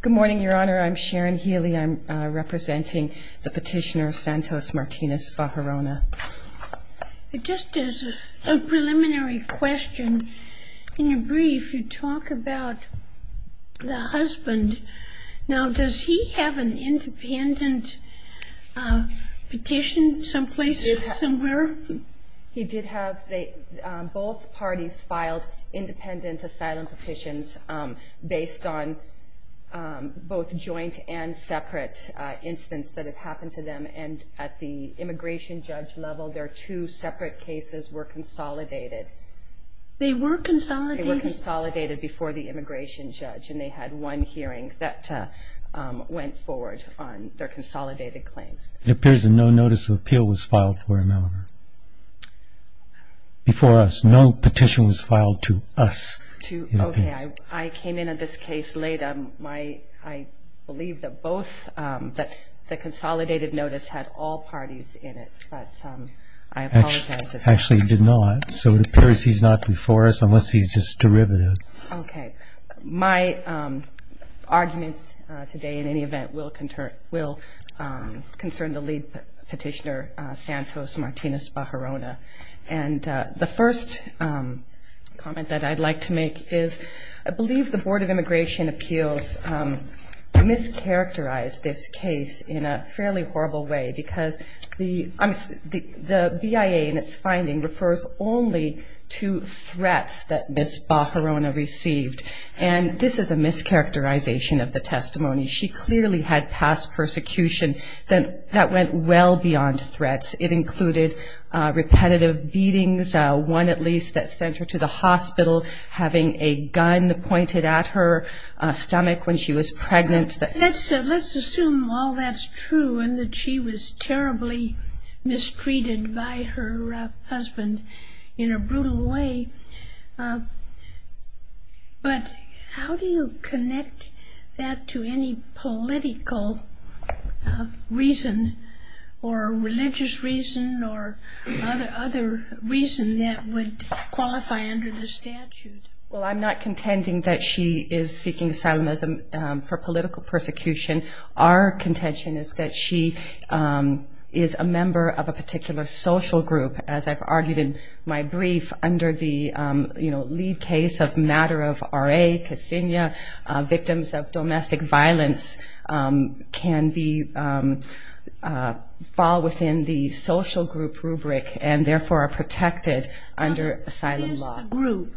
Good morning, Your Honor. I'm Sharon Healy. I'm representing the petitioner Santos Martinez-Baharona. Just as a preliminary question, in your brief you talk about the husband. Now, does he have an independent petition someplace, somewhere? He did have. Both parties filed independent asylum petitions based on both joint and separate incidents that had happened to them. And at the immigration judge level, their two separate cases were consolidated. They were consolidated? They were consolidated before the immigration judge, and they had one hearing that went forward on their consolidated claims. It appears that no notice of appeal was filed for him before us. No petition was filed to us. Okay. I came in on this case later. I believe that both, that the consolidated notice had all parties in it, but I apologize. Actually, it did not. So it appears he's not before us, unless he's just derivative. Okay. My arguments today, in any event, will concern the lead petitioner, Santos Martinez-Baharona. And the first comment that I'd like to make is I believe the Board of Immigration Appeals mischaracterized this case in a fairly horrible way, because the BIA, in its finding, refers only to threats that Ms. Baharona received. And this is a mischaracterization of the testimony. She clearly had past persecution that went well beyond threats. It included repetitive beatings, one, at least, that sent her to the hospital, having a gun pointed at her stomach when she was pregnant. Let's assume all that's true and that she was terribly mistreated by her husband in a brutal way. But how do you connect that to any political reason or religious reason or other reason that would qualify under the statute? Well, I'm not contending that she is seeking asylum for political persecution. Our contention is that she is a member of a particular social group. As I've argued in my brief, under the lead case of matter of R.A., Ksenia, victims of domestic violence can fall within the social group rubric and therefore are protected under asylum law. What is the group?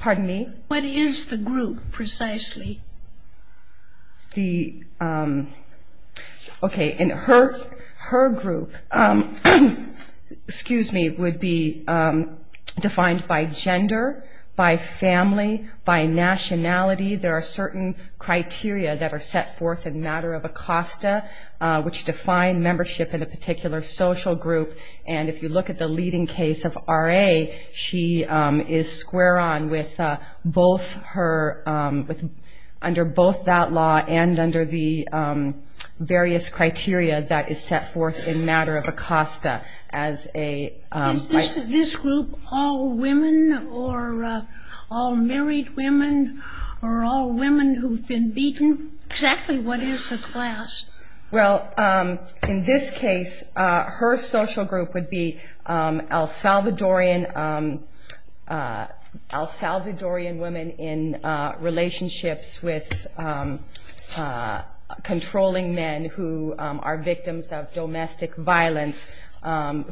Pardon me? What is the group, precisely? Okay, her group would be defined by gender, by family, by nationality. There are certain criteria that are set forth in matter of ACOSTA, which define membership in a particular social group. And if you look at the leading case of R.A., she is square on with both her under both that law and under the various criteria that is set forth in matter of ACOSTA as a... All women or all married women or all women who've been beaten? Exactly what is the class? Well, in this case, her social group would be El Salvadorian women in relationships with controlling men who are victims of domestic violence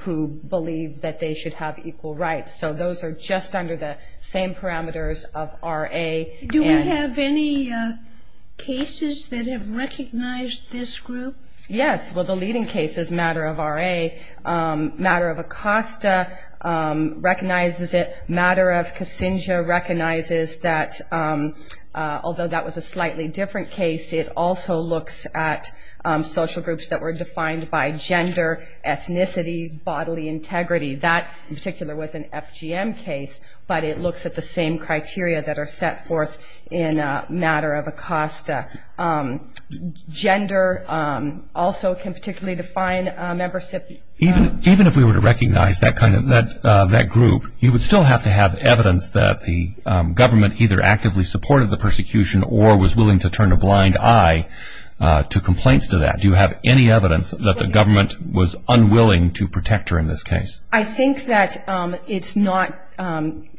who believe that they should have equal rights. So those are just under the same parameters of R.A. Do we have any cases that have recognized this group? Yes. Well, the leading case is matter of R.A. Matter of ACOSTA recognizes it. Matter of Kasinga recognizes that, although that was a slightly different case, it also looks at social groups that were defined by gender, ethnicity, bodily integrity. That in particular was an FGM case, but it looks at the same criteria that are set forth in matter of ACOSTA. Gender also can particularly define membership. Even if we were to recognize that group, you would still have to have evidence that the government either actively supported the persecution or was willing to turn a blind eye to complaints to that. Do you have any evidence that the government was unwilling to protect her in this case? I think that it's not.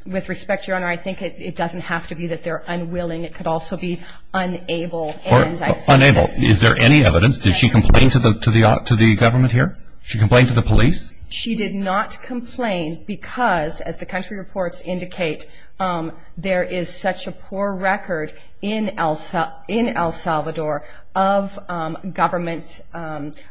With respect, Your Honor, I think it doesn't have to be that they're unwilling. It could also be unable. Unable. Is there any evidence? Did she complain to the government here? She complained to the police? She did not complain because, as the country reports indicate, there is such a poor record in El Salvador of government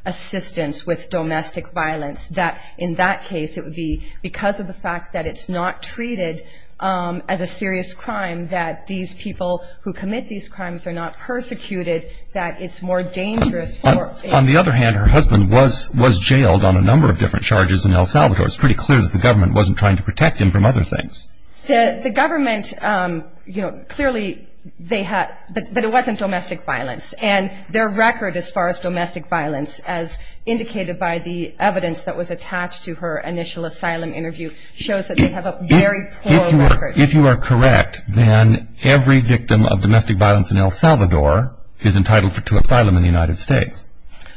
assistance with domestic violence that in that case it would be because of the fact that it's not treated as a serious crime, that these people who commit these crimes are not persecuted, that it's more dangerous for them. On the other hand, her husband was jailed on a number of different charges in El Salvador. It's pretty clear that the government wasn't trying to protect him from other things. The government, you know, clearly they had, but it wasn't domestic violence. And their record as far as domestic violence, as indicated by the evidence that was attached to her initial asylum interview, shows that they have a very poor record. If you are correct, then every victim of domestic violence in El Salvador is entitled to asylum in the United States,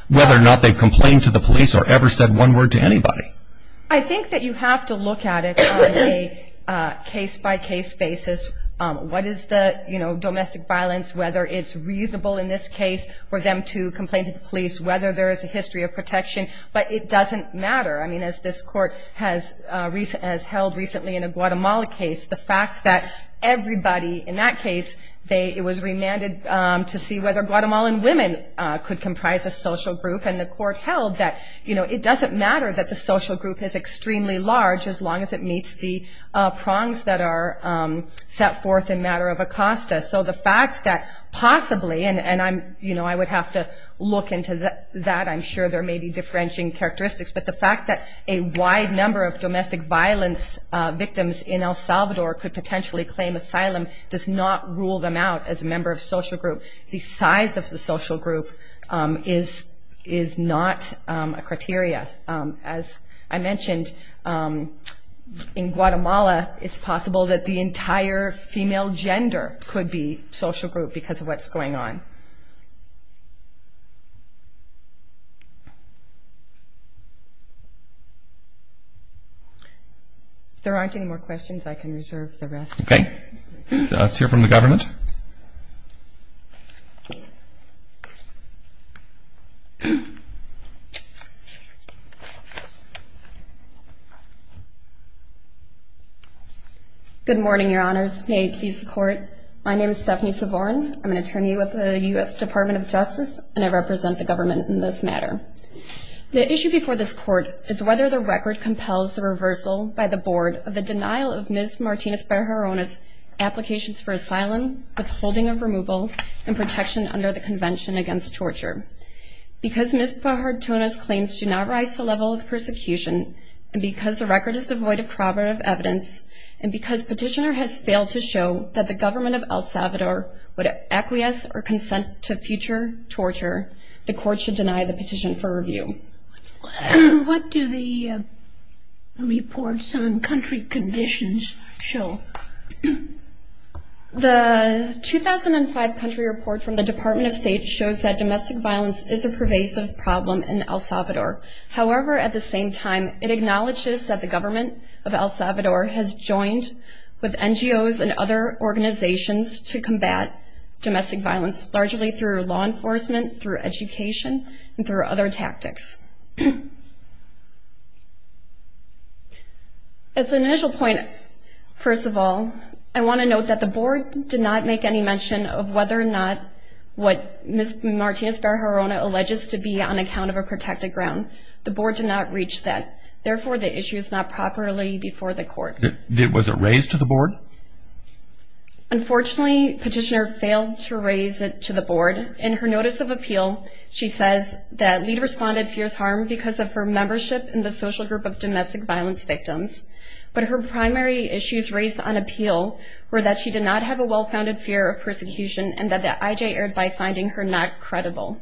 whether or not they complained to the police or ever said one word to anybody. I think that you have to look at it on a case-by-case basis. What is the, you know, domestic violence, whether it's reasonable in this case for them to complain to the police, whether there is a history of protection. But it doesn't matter. I mean, as this court has held recently in a Guatemala case, the fact that everybody in that case, it was remanded to see whether Guatemalan women could comprise a social group. And the court held that, you know, it doesn't matter that the social group is extremely large as long as it meets the prongs that are set forth in matter of Acosta. So the fact that possibly, and I'm, you know, I would have to look into that. I'm sure there may be differentiating characteristics. But the fact that a wide number of domestic violence victims in El Salvador could potentially claim asylum does not rule them out as a member of social group. The size of the social group is not a criteria. As I mentioned, in Guatemala, it's possible that the entire female gender could be social group because of what's going on. If there aren't any more questions, I can reserve the rest. Okay. Let's hear from the government. Good morning, Your Honors. May it please the Court. My name is Stephanie Savorin. I'm an attorney with the U.S. Department of Justice, and I represent the government in this matter. The issue before this Court is whether the record compels the reversal by the Board of the denial of Ms. Martinez-Bajarone's applications for asylum, withholding of removal, and protection under the Convention Against Torture. Because Ms. Bajarone's claims do not rise to the level of persecution, and because the record is devoid of corroborative evidence, and because Petitioner has failed to show that the government of El Salvador would acquiesce or consent to future torture, the Court should deny the petition for review. What do the reports on country conditions show? The 2005 country report from the Department of State shows that domestic violence is a pervasive problem in El Salvador. However, at the same time, it acknowledges that the government of El Salvador has joined with NGOs and other organizations to combat domestic violence, largely through law enforcement, through education, and through other tactics. As an initial point, first of all, I want to note that the Board did not make any mention of whether or not what Ms. Martinez-Bajarone alleges to be on account of a protected ground. The Board did not reach that. Therefore, the issue is not properly before the Court. Was it raised to the Board? Unfortunately, Petitioner failed to raise it to the Board. In her notice of appeal, she says that LEAD responded fears harm because of her membership in the Social Group of Domestic Violence Victims. But her primary issues raised on appeal were that she did not have a well-founded fear of persecution and that the IJ erred by finding her not credible.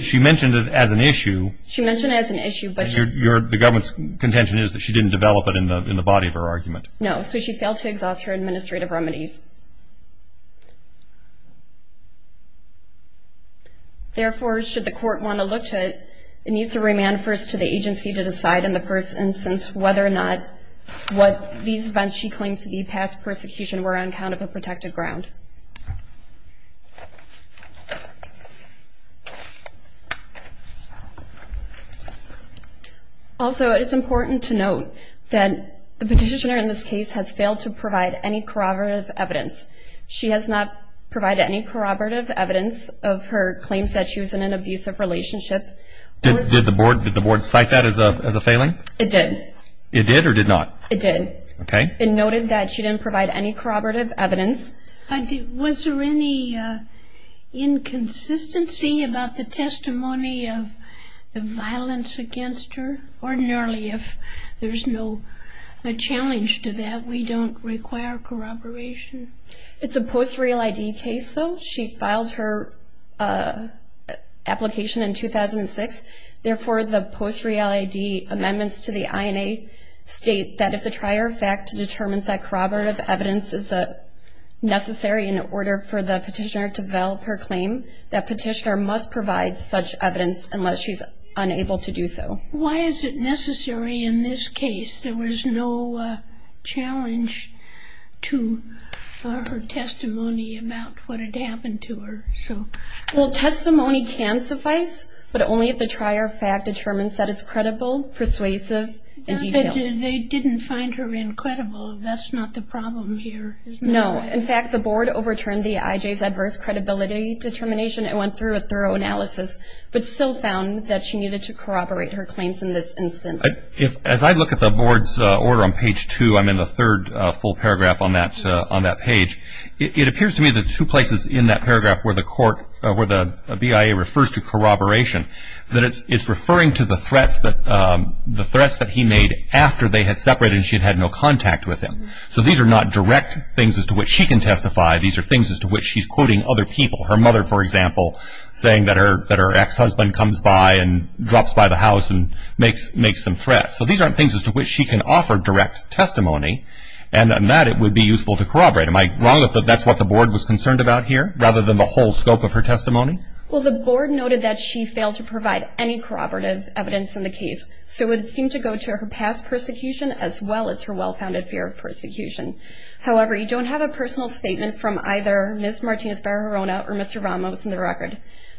She mentioned it as an issue. She mentioned it as an issue. The government's contention is that she didn't develop it in the body of her argument. No, so she failed to exhaust her administrative remedies. Therefore, should the Court want to look to it, it needs to remand first to the agency to decide in the first instance whether or not what these events she claims to be past persecution were on account of a protected ground. Also, it is important to note that the Petitioner in this case has failed to provide any corroborative evidence. She has not provided any corroborative evidence of her claims that she was in an abusive relationship. Did the Board cite that as a failing? It did. It did or did not? It did. Okay. It noted that she didn't provide any corroborative evidence. Was there any inconsistency about the testimony of the violence against her? Ordinarily, if there's no challenge to that, we don't require corroboration. It's a post-real ID case, though. She filed her application in 2006. Therefore, the post-real ID amendments to the INA state that if the trier of fact determines that corroborative evidence is necessary in order for the Petitioner to develop her claim, that Petitioner must provide such evidence unless she's unable to do so. Why is it necessary in this case? There was no challenge to her testimony about what had happened to her. Well, testimony can suffice, but only if the trier of fact determines that it's credible, persuasive, and detailed. They didn't find her incredible. That's not the problem here, is that right? No. In fact, the Board overturned the IJ's adverse credibility determination and went through a thorough analysis, but still found that she needed to corroborate her claims in this instance. As I look at the Board's order on page 2, I'm in the third full paragraph on that page. It appears to me that two places in that paragraph where the BIA refers to corroboration, that it's referring to the threats that he made after they had separated and she had had no contact with him. So these are not direct things as to which she can testify. These are things as to which she's quoting other people. Her mother, for example, saying that her ex-husband comes by and drops by the house and makes some threats. So these aren't things as to which she can offer direct testimony, and that it would be useful to corroborate. Am I wrong that that's what the Board was concerned about here, rather than the whole scope of her testimony? Well, the Board noted that she failed to provide any corroborative evidence in the case. So it would seem to go to her past persecution as well as her well-founded fear of persecution. However, you don't have a personal statement from either Ms. Martinez-Barrona or Mr. Ramos in the record.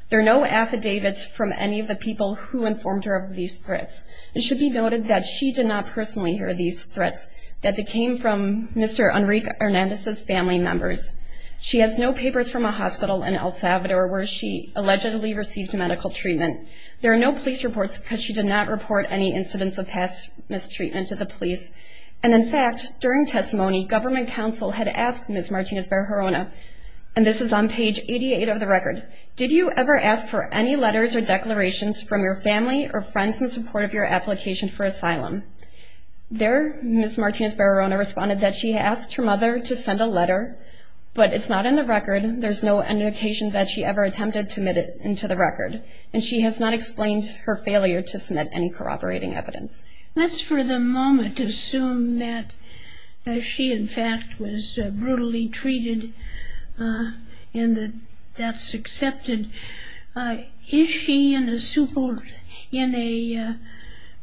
There are no affidavits from any of the people who informed her of these threats. It should be noted that she did not personally hear these threats, that they came from Mr. Enrique Hernandez's family members. She has no papers from a hospital in El Salvador where she allegedly received medical treatment. There are no police reports because she did not report any incidents of past mistreatment to the police. And, in fact, during testimony, government counsel had asked Ms. Martinez-Barrona, and this is on page 88 of the record, did you ever ask for any letters or declarations from your family or friends in support of your application for asylum? There Ms. Martinez-Barrona responded that she asked her mother to send a letter, but it's not in the record. There's no indication that she ever attempted to admit it into the record. And she has not explained her failure to submit any corroborating evidence. Let's for the moment assume that she, in fact, was brutally treated and that that's accepted. Is she in a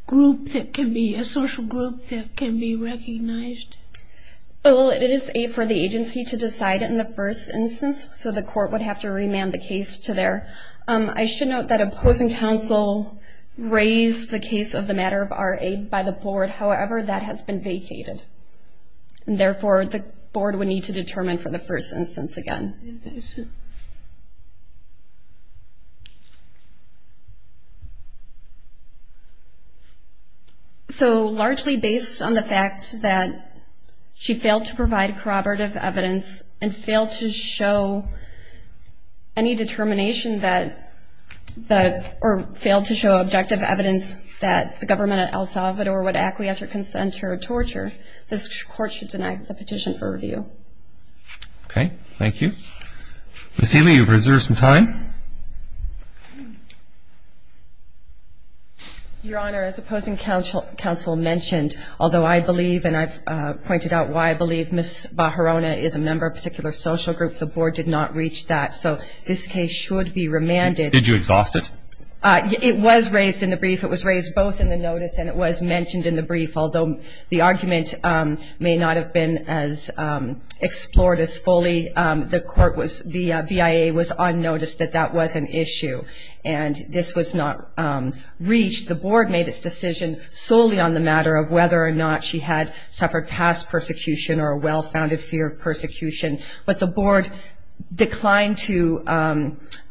group that can be a social group that can be recognized? Well, it is for the agency to decide in the first instance, so the court would have to remand the case to their. I should note that opposing counsel raised the case of the matter of our aid by the board. However, that has been vacated. And therefore, the board would need to determine for the first instance again. So largely based on the fact that she failed to provide corroborative evidence and failed to show any determination that the or failed to show objective evidence that the government at El Salvador would acquiesce or consent to her torture, this court should deny the petition for review. Okay. Thank you. Ms. Haley, you've reserved some time. Your Honor, as opposing counsel mentioned, although I believe and I've pointed out why I believe Ms. Barrona is a member of a particular social group, the board did not reach that. So this case should be remanded. Did you exhaust it? It was raised in the brief. It was raised both in the notice and it was mentioned in the brief. Although the argument may not have been as explored as fully, the BIA was on notice that that was an issue, and this was not reached. The board made its decision solely on the matter of whether or not she had suffered past persecution or a well-founded fear of persecution. But the board declined to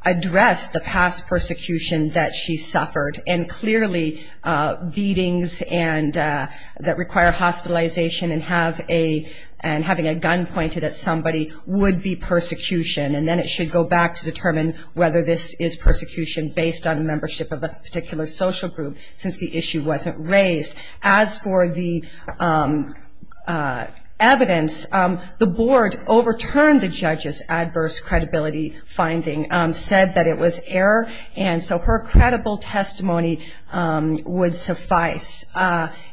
address the past persecution that she suffered, and clearly beatings that require hospitalization and having a gun pointed at somebody would be persecution. And then it should go back to determine whether this is persecution based on membership of a particular social group since the issue wasn't raised. As for the evidence, the board overturned the judge's adverse credibility finding, said that it was error, and so her credible testimony would suffice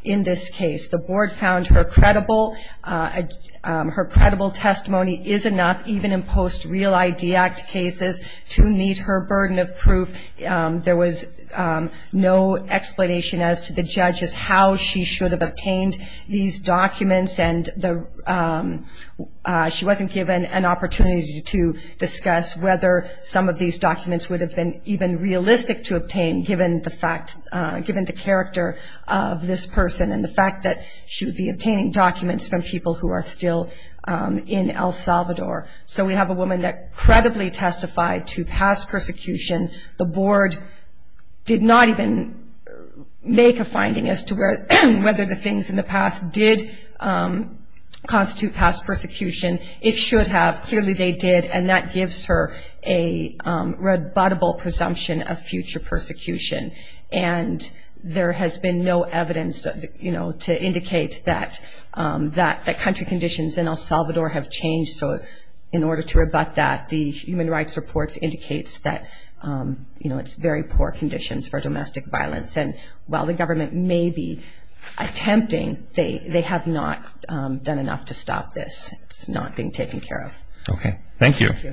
in this case. The board found her credible testimony is enough, even in post-Real ID Act cases to meet her burden of proof. There was no explanation as to the judges how she should have obtained these documents, and she wasn't given an opportunity to discuss whether some of these documents would have been even realistic to obtain given the character of this person and the fact that she would be obtaining documents from people who are still in El Salvador. So we have a woman that credibly testified to past persecution. The board did not even make a finding as to whether the things in the past did constitute past persecution. It should have. Clearly they did, and that gives her a rebuttable presumption of future persecution. And there has been no evidence to indicate that country conditions in El Salvador have changed so in order to rebut that, the human rights reports indicates that it's very poor conditions for domestic violence. And while the government may be attempting, they have not done enough to stop this. It's not being taken care of. Okay. Thank you. Thank you.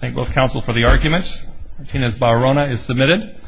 Thank both counsel for the arguments. Martinez-Barrona is submitted.